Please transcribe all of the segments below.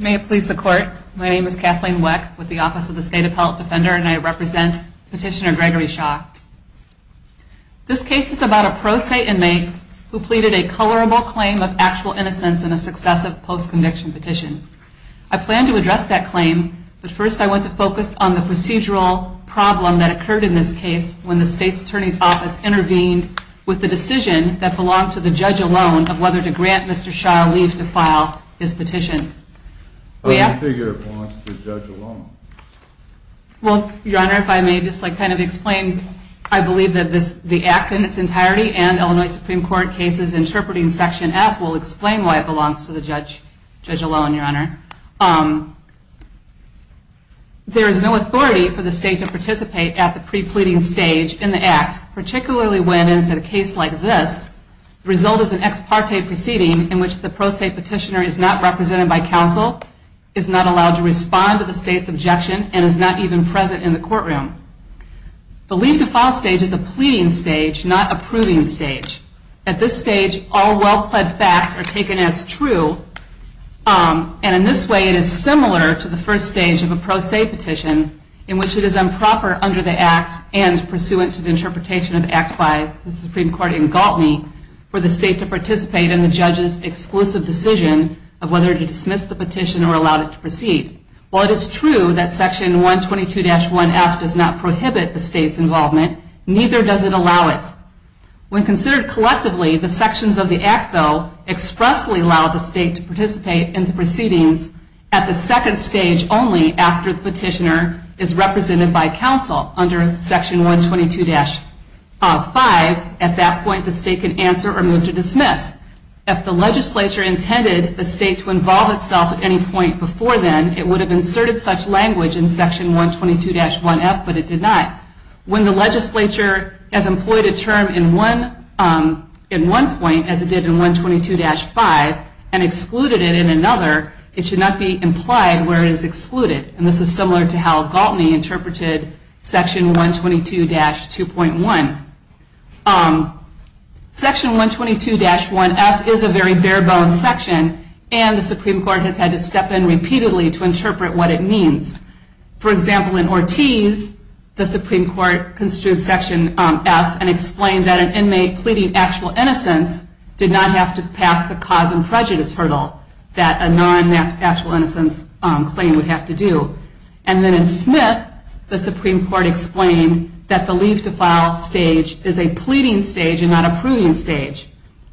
May it please the Court, my name is Kathleen Weck with the Office of the State Appellate Defender and I represent Petitioner Gregory Shaw. This case is about a pro se inmate who pleaded a colorable claim of actual innocence in a successive post-conviction petition. I plan to address that claim, but first I want to focus on the procedural problem that occurred in this case when the State's Attorney's Office intervened with the decision that belonged to the judge alone of whether to grant Mr. Shaw leave to file his petition. I believe that the act in its entirety and Illinois Supreme Court cases interpreting section F will explain why it belongs to the judge alone. There is no authority for the state to participate at the pre-pleading stage in the act, particularly when, in a case like this, the result is an ex parte proceeding in which the pro se petitioner is not represented by counsel, is not allowed to respond to the state's objection, and is not even present in the courtroom. The leave to file stage is a pleading stage, not a proving stage. At this stage, all well pled facts are taken as true, and in this way it is similar to the first stage of a pro se petition in which it is improper under the act and pursuant to the interpretation of the act by the Supreme Court in Galtney for the state to participate in the judge's exclusive decision of whether to dismiss the petition or allow it to proceed. While it is true that section 122-1F does not prohibit the state's involvement, neither does it allow it. When considered collectively, the sections of the act, though, expressly allow the state to participate in the proceedings at the second stage only after the petitioner is represented by counsel under section 122-5. At that point, the state can answer or move to dismiss. If the legislature intended the state to involve itself at any point before then, it would have inserted such language in section 122-1F, but it did not. When the legislature has employed a term in one point, as it did in 122-5, and excluded it in another, it should not be implied where it is excluded. And this is similar to how Galtney interpreted section 122-2.1. Section 122-1F is a very bare bones section, and the Supreme Court has had to step in repeatedly to interpret what it means. For example, in Ortiz, the Supreme Court construed section F and explained that an inmate pleading actual innocence did not have to pass the cause and prejudice hurdle that a non-actual innocence claim would have to do. And then in Smith, the Supreme Court explained that the leave to file stage is a pleading stage and not a proving stage.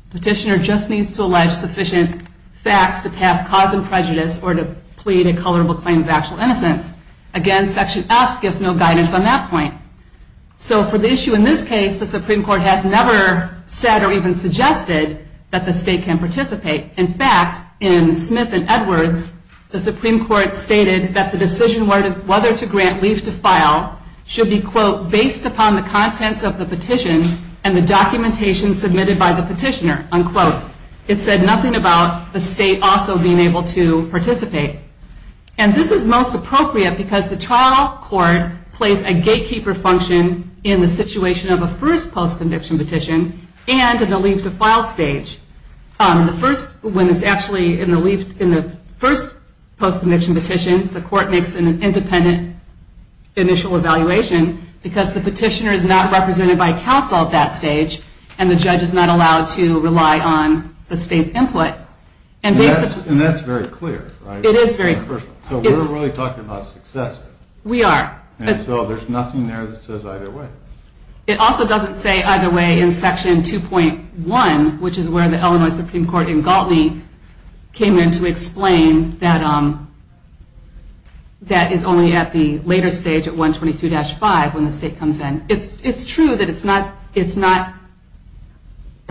Petitioner just needs to allege sufficient facts to pass cause and prejudice or to plead a colorable claim of actual innocence. Again, section F gives no guidance on that point. So for the issue in this case, the Supreme Court has never said or even suggested that the state can participate. In fact, in Smith and Edwards, the Supreme Court stated that the decision whether to grant leave to file should be, quote, based upon the contents of the petition and the documentation submitted by the petitioner, unquote. It said nothing about the state also being able to participate. And this is most appropriate because the trial court plays a gatekeeper function in the situation of a first post-conviction petition and in the leave to file stage. When it's actually in the first post-conviction petition, the court makes an independent initial evaluation because the petitioner is not represented by counsel at that stage and the judge is not allowed to rely on the state's input. And that's very clear, right? It is very clear. So we're really talking about success. We are. And so there's nothing there that says either way. It also doesn't say either way in section 2.1, which is where the Illinois Supreme Court in Galtney came in to explain that that is only at the later stage at 122-5 when the state comes in. It's true that it's not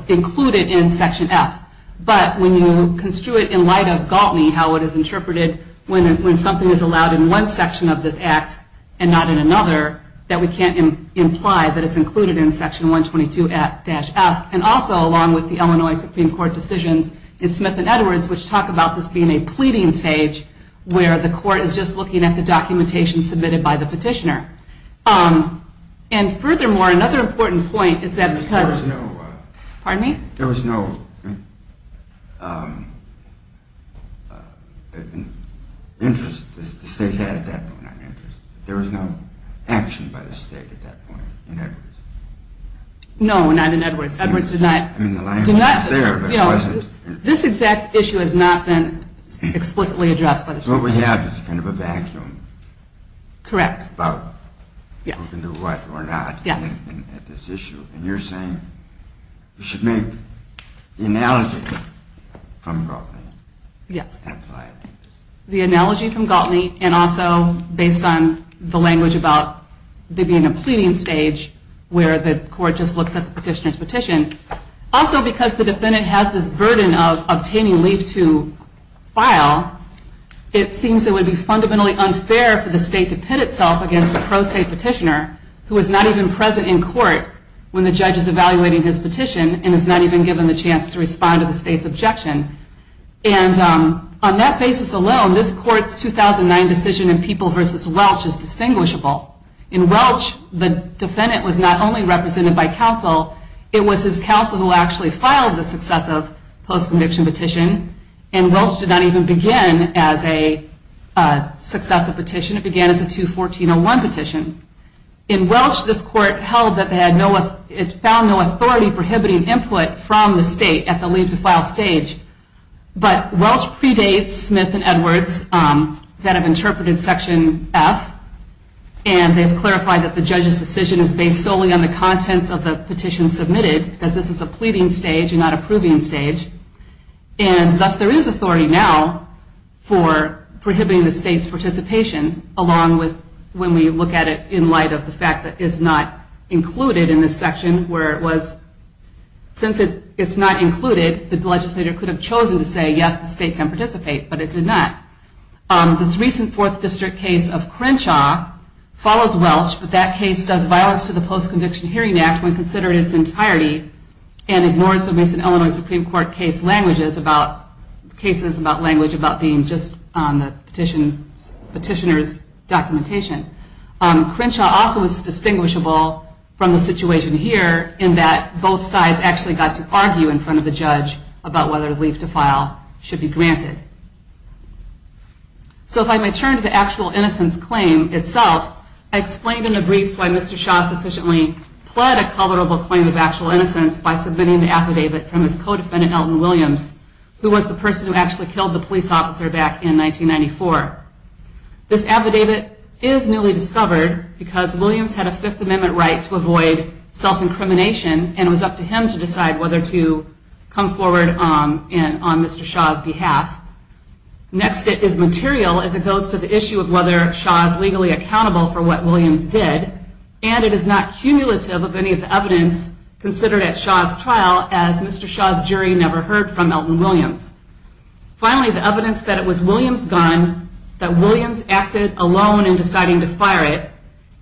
included in section F, but when you construe it in light of Galtney, how it is interpreted when something is allowed in one section of this act and not in another, that we can't imply that it's included in section 122-F. And also, along with the Illinois Supreme Court decisions in Smith and Edwards, which talk about this being a pleading stage where the court is just looking at the documentation submitted by the petitioner. And furthermore, another important point is that because... There was no... Pardon me? There was no interest that the state had at that point. There was no action by the state at that point in Edwards. No, not in Edwards. Edwards did not... I mean, the language was there, but it wasn't... This exact issue has not been explicitly addressed by the state. So what we have is kind of a vacuum. Correct. About who can do what or not at this issue. And you're saying you should make the analogy from Galtney. Yes. The analogy from Galtney, and also based on the language about there being a pleading stage where the court just looks at the petitioner's petition. Also, because the defendant has this burden of obtaining leave to file, it seems it would be fundamentally unfair for the state to pit itself against a pro se petitioner, who is not even present in court when the judge is evaluating his petition and is not even given the chance to respond to the state's objection. And on that basis alone, this court's 2009 decision in People v. Welch is distinguishable. In Welch, the defendant was not only represented by counsel. It was his counsel who actually filed the successive post-conviction petition. And Welch did not even begin as a successive petition. It began as a 2-1401 petition. In Welch, this court held that it found no authority prohibiting input from the state at the leave to file stage. But Welch predates Smith and Edwards that have interpreted Section F, and they've clarified that the judge's decision is based solely on the contents of the petition submitted, because this is a pleading stage and not a proving stage. And thus there is authority now for prohibiting the state's participation, along with when we look at it in light of the fact that it's not included in this section, where it was, since it's not included, the legislator could have chosen to say, yes, the state can participate, but it did not. This recent Fourth District case of Crenshaw follows Welch, but that case does violence to the Post-Conviction Hearing Act when considered in its entirety and ignores the Mason, Illinois Supreme Court cases about language about being just on the petitioner's documentation. Crenshaw also is distinguishable from the situation here, in that both sides actually got to argue in front of the judge about whether leave to file should be granted. So if I may turn to the actual innocence claim itself, I explained in the briefs why Mr. Shaw sufficiently pled a culpable claim of actual innocence by submitting the affidavit from his co-defendant, Elton Williams, who was the person who actually killed the police officer back in 1994. This affidavit is newly discovered because Williams had a Fifth Amendment right to avoid self-incrimination and it was up to him to decide whether to come forward on Mr. Shaw's behalf. Next, it is material as it goes to the issue of whether Shaw is legally accountable for what Williams did, and it is not cumulative of any of the evidence considered at Shaw's trial, as Mr. Shaw's jury never heard from Elton Williams. Finally, the evidence that it was Williams' gun, that Williams acted alone in deciding to fire it,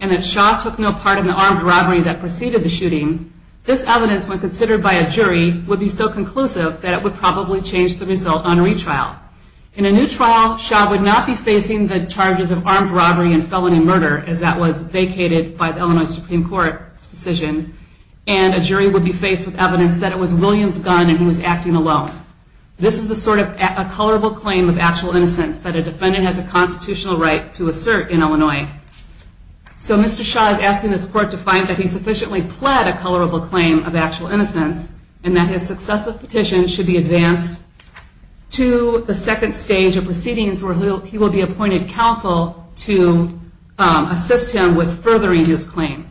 and that Shaw took no part in the armed robbery that preceded the shooting, this evidence, when considered by a jury, would be so conclusive that it would probably change the result on retrial. In a new trial, Shaw would not be facing the charges of armed robbery and felony murder, as that was vacated by the Illinois Supreme Court's decision, and a jury would be faced with evidence that it was Williams' gun and he was acting alone. This is the sort of culpable claim of actual innocence that a defendant has a constitutional right to assert in Illinois. So Mr. Shaw is asking this court to find that he sufficiently pled a culpable claim of actual innocence and that his successive petitions should be advanced to the second stage of proceedings where he will be appointed counsel to assist him with furthering his claim.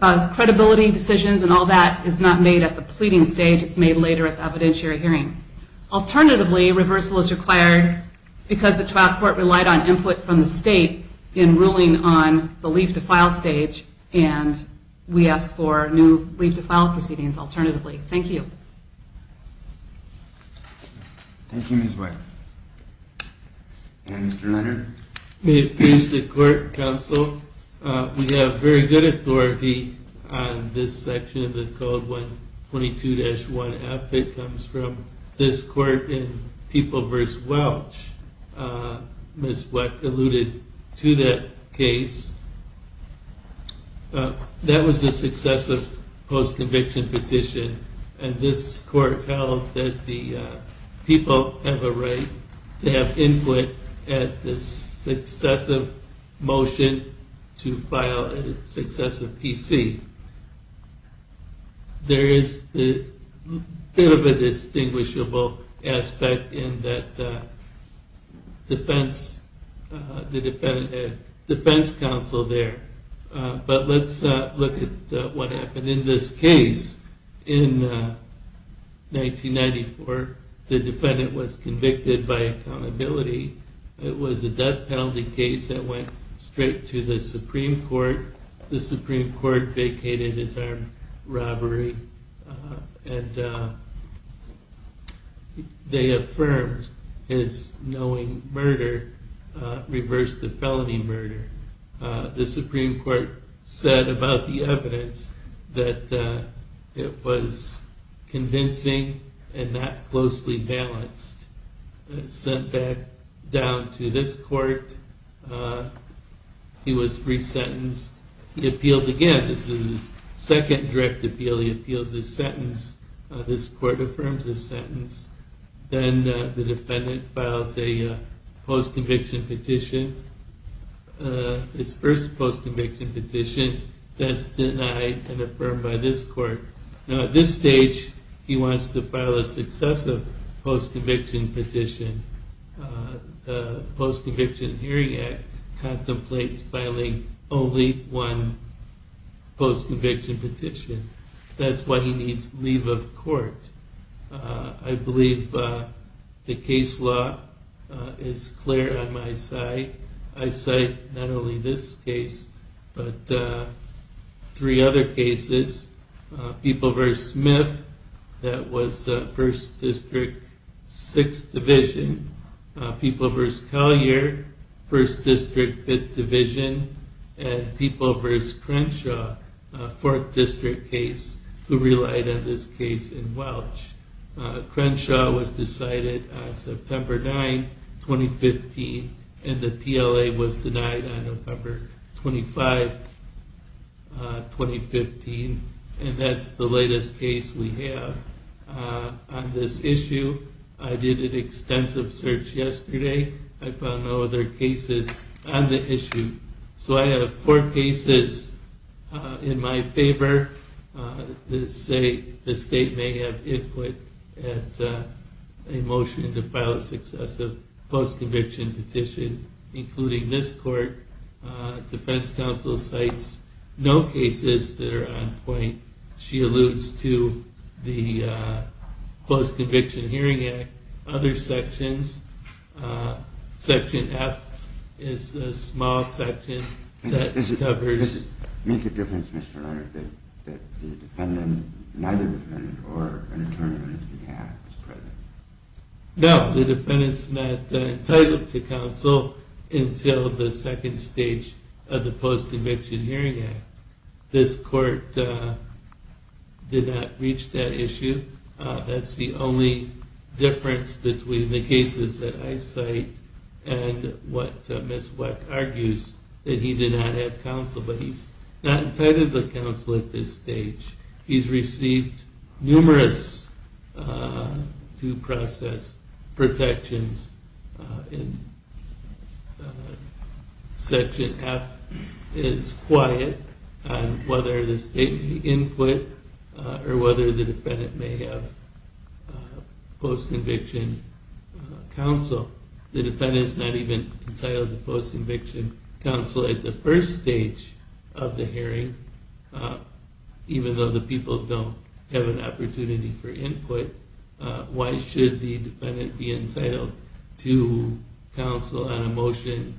Credibility decisions and all that is not made at the pleading stage, it's made later at the evidentiary hearing. Alternatively, reversal is required because the trial court relied on input from the state in ruling on the leave-to-file stage, and we ask for new leave-to-file proceedings alternatively. Thank you. Thank you, Ms. White. And Mr. Leonard? May it please the court, counsel, we have very good authority on this section of the Code 122-1F. It comes from this court in People v. Welch. Ms. Welch alluded to that case. That was a successive post-conviction petition, and this court held that the people have a right to have input at the successive motion to file a successive PC. There is a bit of a distinguishable aspect in that defense counsel there, but let's look at what happened in this case. In 1994, the defendant was convicted by accountability. It was a death penalty case that went straight to the Supreme Court. The Supreme Court vacated his armed robbery, and they affirmed his knowing murder reversed the felony murder. The Supreme Court said about the evidence that it was convincing and not closely balanced. Sent back down to this court, he was resentenced. He appealed again. This is his second direct appeal. He appeals his sentence. This court affirms his sentence. Then the defendant files a post-conviction petition, his first post-conviction petition that's denied and affirmed by this court. Now at this stage, he wants to file a successive post-conviction petition. The Post-Conviction Hearing Act contemplates filing only one post-conviction petition. That's why he needs leave of court. I believe the case law is clear on my side. I cite not only this case, but three other cases. People v. Smith, that was 1st District, 6th Division. People v. Collier, 1st District, 5th Division. And People v. Crenshaw, 4th District case, who relied on this case in Welch. Crenshaw was decided on September 9, 2015. And the PLA was denied on November 25, 2015. And that's the latest case we have on this issue. I did an extensive search yesterday. I found no other cases on the issue. So I have four cases in my favor. The state may have input at a motion to file a successive post-conviction petition, including this court. Defense counsel cites no cases that are on point. She alludes to the Post-Conviction Hearing Act. Other sections. Section F is a small section that covers... Does it make a difference, Mr. Leonard, that the defendant, neither defendant or an attorney on his behalf is present? No. The defendant's not entitled to counsel until the second stage of the Post-Conviction Hearing Act. This court did not reach that issue. That's the only difference between the cases that I cite and what Ms. Weck argues, that he did not have counsel, but he's not entitled to counsel at this stage. He's received numerous due process protections. Section F is quiet on whether the state may input or whether the defendant may have post-conviction counsel. The defendant's not even entitled to post-conviction counsel at the first stage of the hearing, even though the people don't have an opportunity for input. Why should the defendant be entitled to counsel on a motion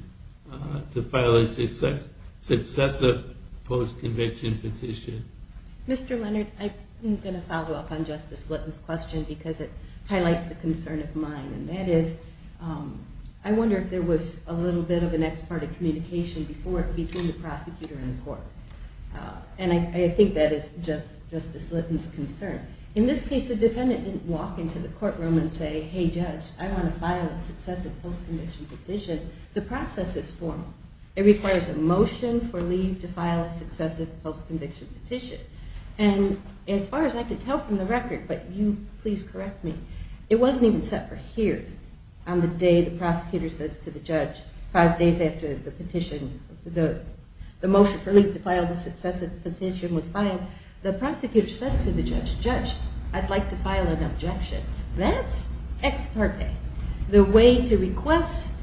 to file a successive post-conviction petition? Mr. Leonard, I'm going to follow up on Justice Litton's question because it highlights a concern of mine, and that is I wonder if there was a little bit of an ex parte communication before it became the prosecutor in court. And I think that is Justice Litton's concern. In this case, the defendant didn't walk into the courtroom and say, hey judge, I want to file a successive post-conviction petition. The process is formal. It requires a motion for leave to file a successive post-conviction petition. And as far as I could tell from the record, but you please correct me, it wasn't even set for here on the day the prosecutor says to the judge five days after the motion for leave to file the successive petition was filed, the prosecutor says to the judge, judge, I'd like to file an objection. That's ex parte. The way to request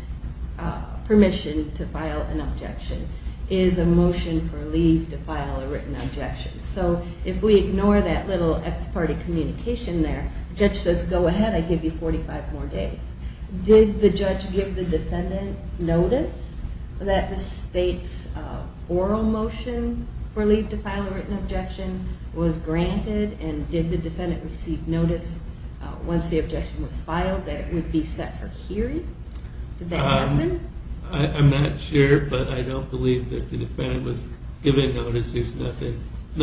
permission to file an objection is a motion for leave to file a written objection. So if we ignore that little ex parte communication there, the judge says go ahead, I give you 45 more days. Did the judge give the defendant notice that the state's oral motion for leave to file a written objection was granted, and did the defendant receive notice once the objection was filed that it would be set for hearing? Did that happen? I'm not sure, but I don't believe that the defendant was given notice. There's nothing in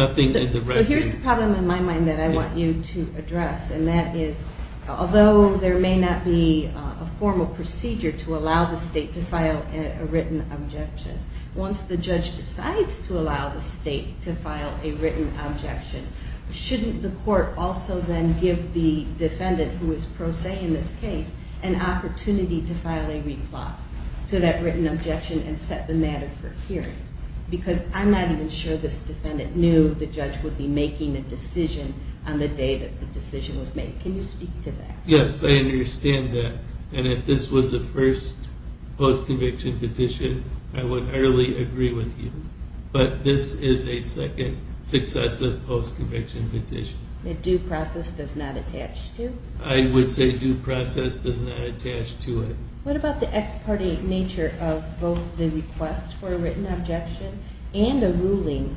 the record. So here's the problem in my mind that I want you to address, and that is although there may not be a formal procedure to allow the state to file a written objection, once the judge decides to allow the state to file a written objection, shouldn't the court also then give the defendant who is pro se in this case an opportunity to file a reply to that written objection and set the matter for hearing? Because I'm not even sure this defendant knew the judge would be making a decision on the day that the decision was made. Can you speak to that? Yes, I understand that. And if this was the first post-conviction petition, I would utterly agree with you. But this is a second successive post-conviction petition. A due process does not attach to? I would say due process does not attach to it. What about the ex parte nature of both the request for a written objection and a ruling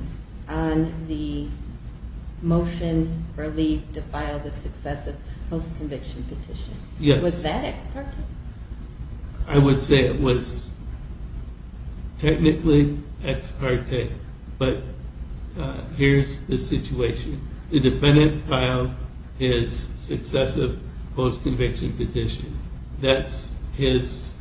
on the motion or leave to file the successive post-conviction petition? Yes. Was that ex parte? I would say it was technically ex parte, but here's the situation. The defendant filed his successive post-conviction petition. That's his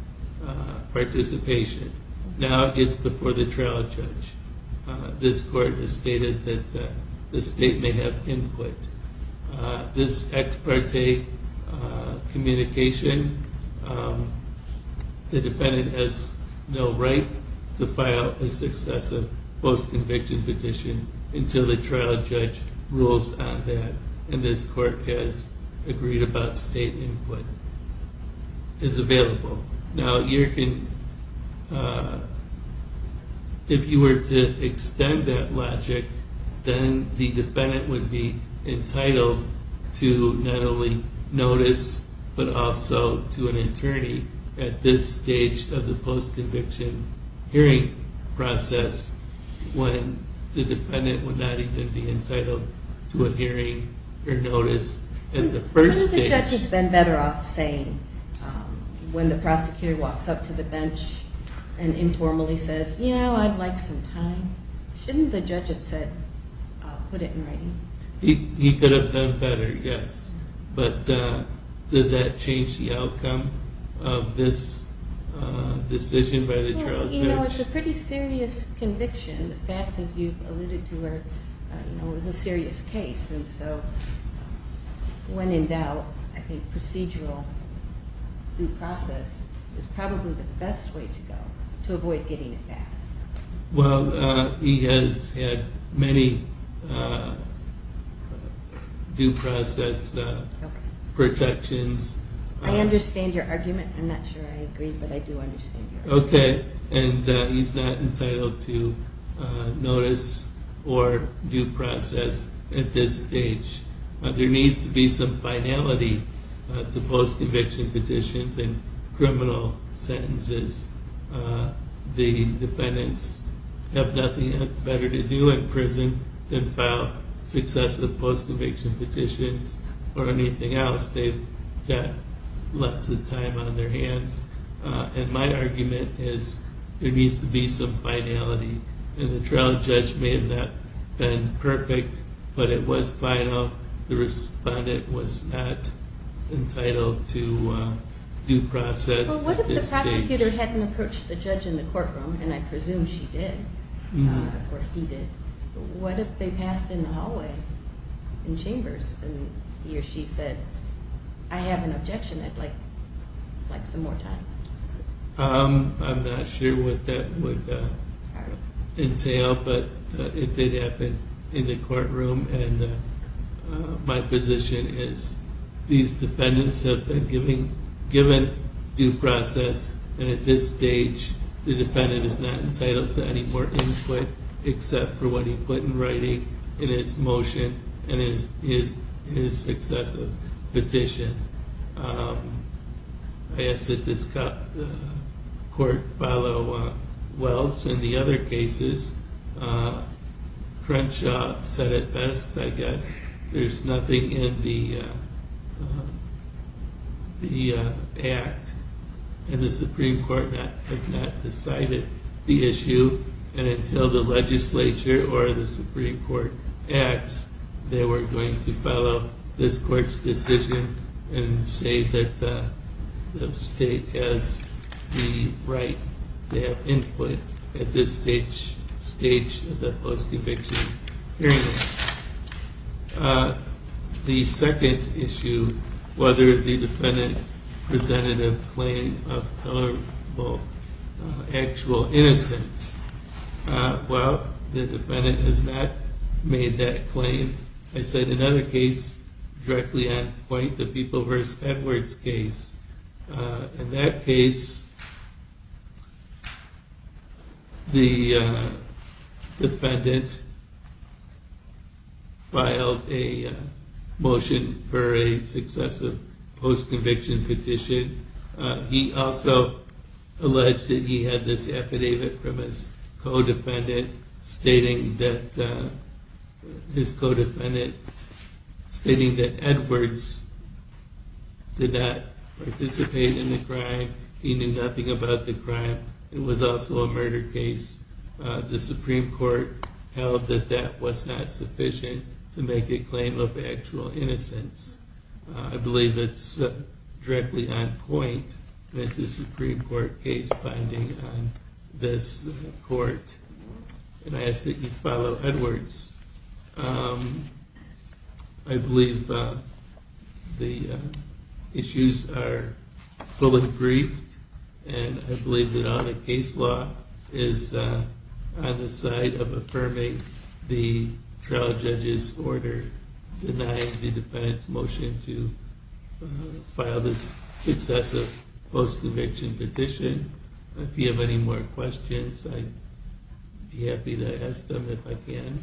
participation. Now it's before the trial judge. This court has stated that the state may have input. This ex parte communication, the defendant has no right to file a successive post-conviction petition until the trial judge rules on that, and this court has agreed about state input is available. Now, if you were to extend that logic, then the defendant would be entitled to not only notice but also to an attorney at this stage of the post-conviction hearing process when the defendant would not even be entitled to a hearing or notice at the first stage. Couldn't the judge have been better off saying when the prosecutor walks up to the bench and informally says, you know, I'd like some time? Shouldn't the judge have said, put it in writing? He could have done better, yes. But does that change the outcome of this decision by the trial judge? Well, you know, it's a pretty serious conviction. The facts, as you've alluded to, are, you know, it was a serious case, and so when in doubt, I think procedural due process is probably the best way to go to avoid getting it back. Well, he has had many due process protections. I understand your argument. I'm not sure I agree, but I do understand your argument. Okay, and he's not entitled to notice or due process at this stage. There needs to be some finality to post-conviction petitions and criminal sentences. The defendants have nothing better to do in prison than file successive post-conviction petitions or anything else. They've got lots of time on their hands. And my argument is there needs to be some finality, and the trial judge may have not been perfect, but it was final. The respondent was not entitled to due process. Well, what if the prosecutor hadn't approached the judge in the courtroom, and I presume she did, or he did? What if they passed in the hallway, in chambers, and he or she said, I have an objection. I'd like some more time. I'm not sure what that would entail, but it did happen in the courtroom, and my position is these defendants have been given due process, and at this stage the defendant is not entitled to any more input except for what he put in writing in his motion and in his successive petition. I ask that this court follow Welch and the other cases. Crenshaw said it best, I guess. There's nothing in the act, and the Supreme Court has not decided the issue. And until the legislature or the Supreme Court acts, they weren't going to follow this court's decision and say that the state has the right to have input at this stage of the post-eviction hearing. The second issue, whether the defendant presented a claim of tolerable actual innocence. Well, the defendant has not made that claim. I said another case directly on point, the People v. Edwards case. In that case, the defendant filed a motion for a successive post-conviction petition. He also alleged that he had this affidavit from his codefendant stating that Edwards did not participate in the crime. He knew nothing about the crime. It was also a murder case. The Supreme Court held that that was not sufficient to make a claim of actual innocence. I believe it's directly on point. It's a Supreme Court case binding on this court. And I ask that you follow Edwards. I believe the issues are fully briefed, and I believe that all the case law is on the side of affirming the trial judge's order denying the defendant's motion to file this successive post-conviction petition. If you have any more questions, I'd be happy to ask them if I can.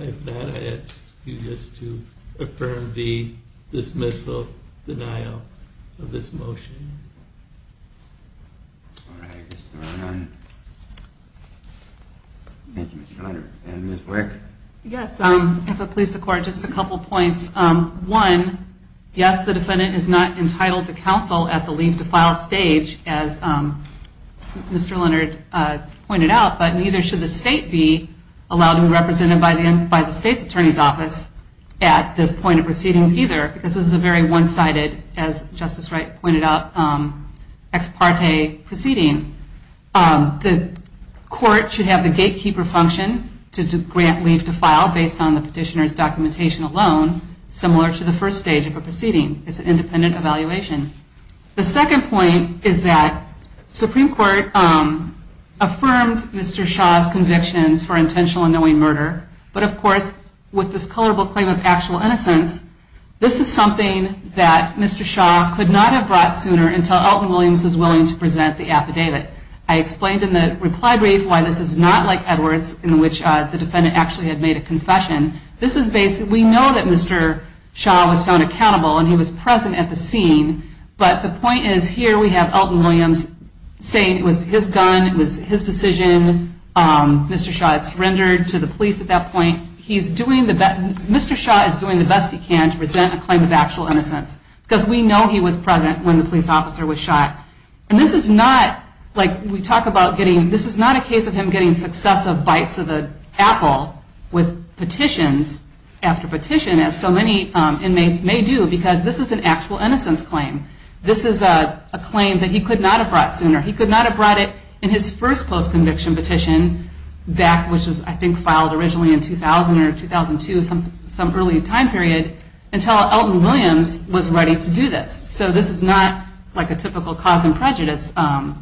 If not, I ask you just to affirm the dismissal, denial of this motion. Thank you, Mr. Leonard. And Ms. Weirich? Yes, if it pleases the Court, just a couple points. One, yes, the defendant is not entitled to counsel at the leave to file stage, as Mr. Leonard pointed out, but neither should the state be allowed to be represented by the state's attorney's office at this point of proceedings either, because this is a very one-sided, as Justice Wright pointed out, ex parte proceeding. The Court should have the gatekeeper function to grant leave to file based on the petitioner's documentation alone, similar to the first stage of a proceeding. It's an independent evaluation. The second point is that the Supreme Court affirmed Mr. Shaw's convictions for intentional and knowing murder, but of course, with this culpable claim of actual innocence, this is something that Mr. Shaw could not have brought sooner until Elton Williams was willing to present the affidavit. I explained in the reply brief why this is not like Edwards, in which the defendant actually had made a confession. This is based, we know that Mr. Shaw was found accountable and he was present at the scene, but the point is, here we have Elton Williams saying it was his gun, it was his decision, Mr. Shaw had surrendered to the police at that point. Mr. Shaw is doing the best he can to present a claim of actual innocence, because we know he was present when the police officer was shot. This is not a case of him getting successive bites of an apple with petitions after petition, as so many inmates may do, because this is an actual innocence claim. This is a claim that he could not have brought sooner. He could not have brought it in his first post-conviction petition back, which was I think filed originally in 2000 or 2002, some early time period, until Elton Williams was ready to do this. So this is not like a typical cause and prejudice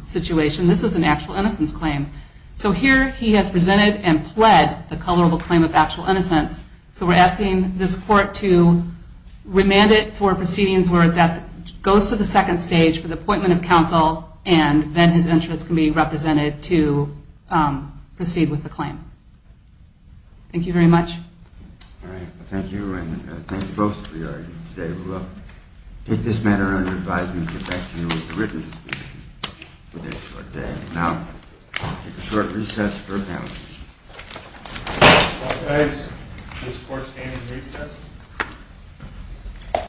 situation, this is an actual innocence claim. So here he has presented and pled the culpable claim of actual innocence, so we're asking this court to remand it for proceedings where it goes to the second stage for the appointment of counsel, and then his interest can be represented to proceed with the claim. Thank you very much. Thank you, and thank you both for your argument today. We will take this matter under advisement and get back to you with a written decision for the next short day. Now, we'll take a short recess for panel discussion. All rise. This court stands recessed.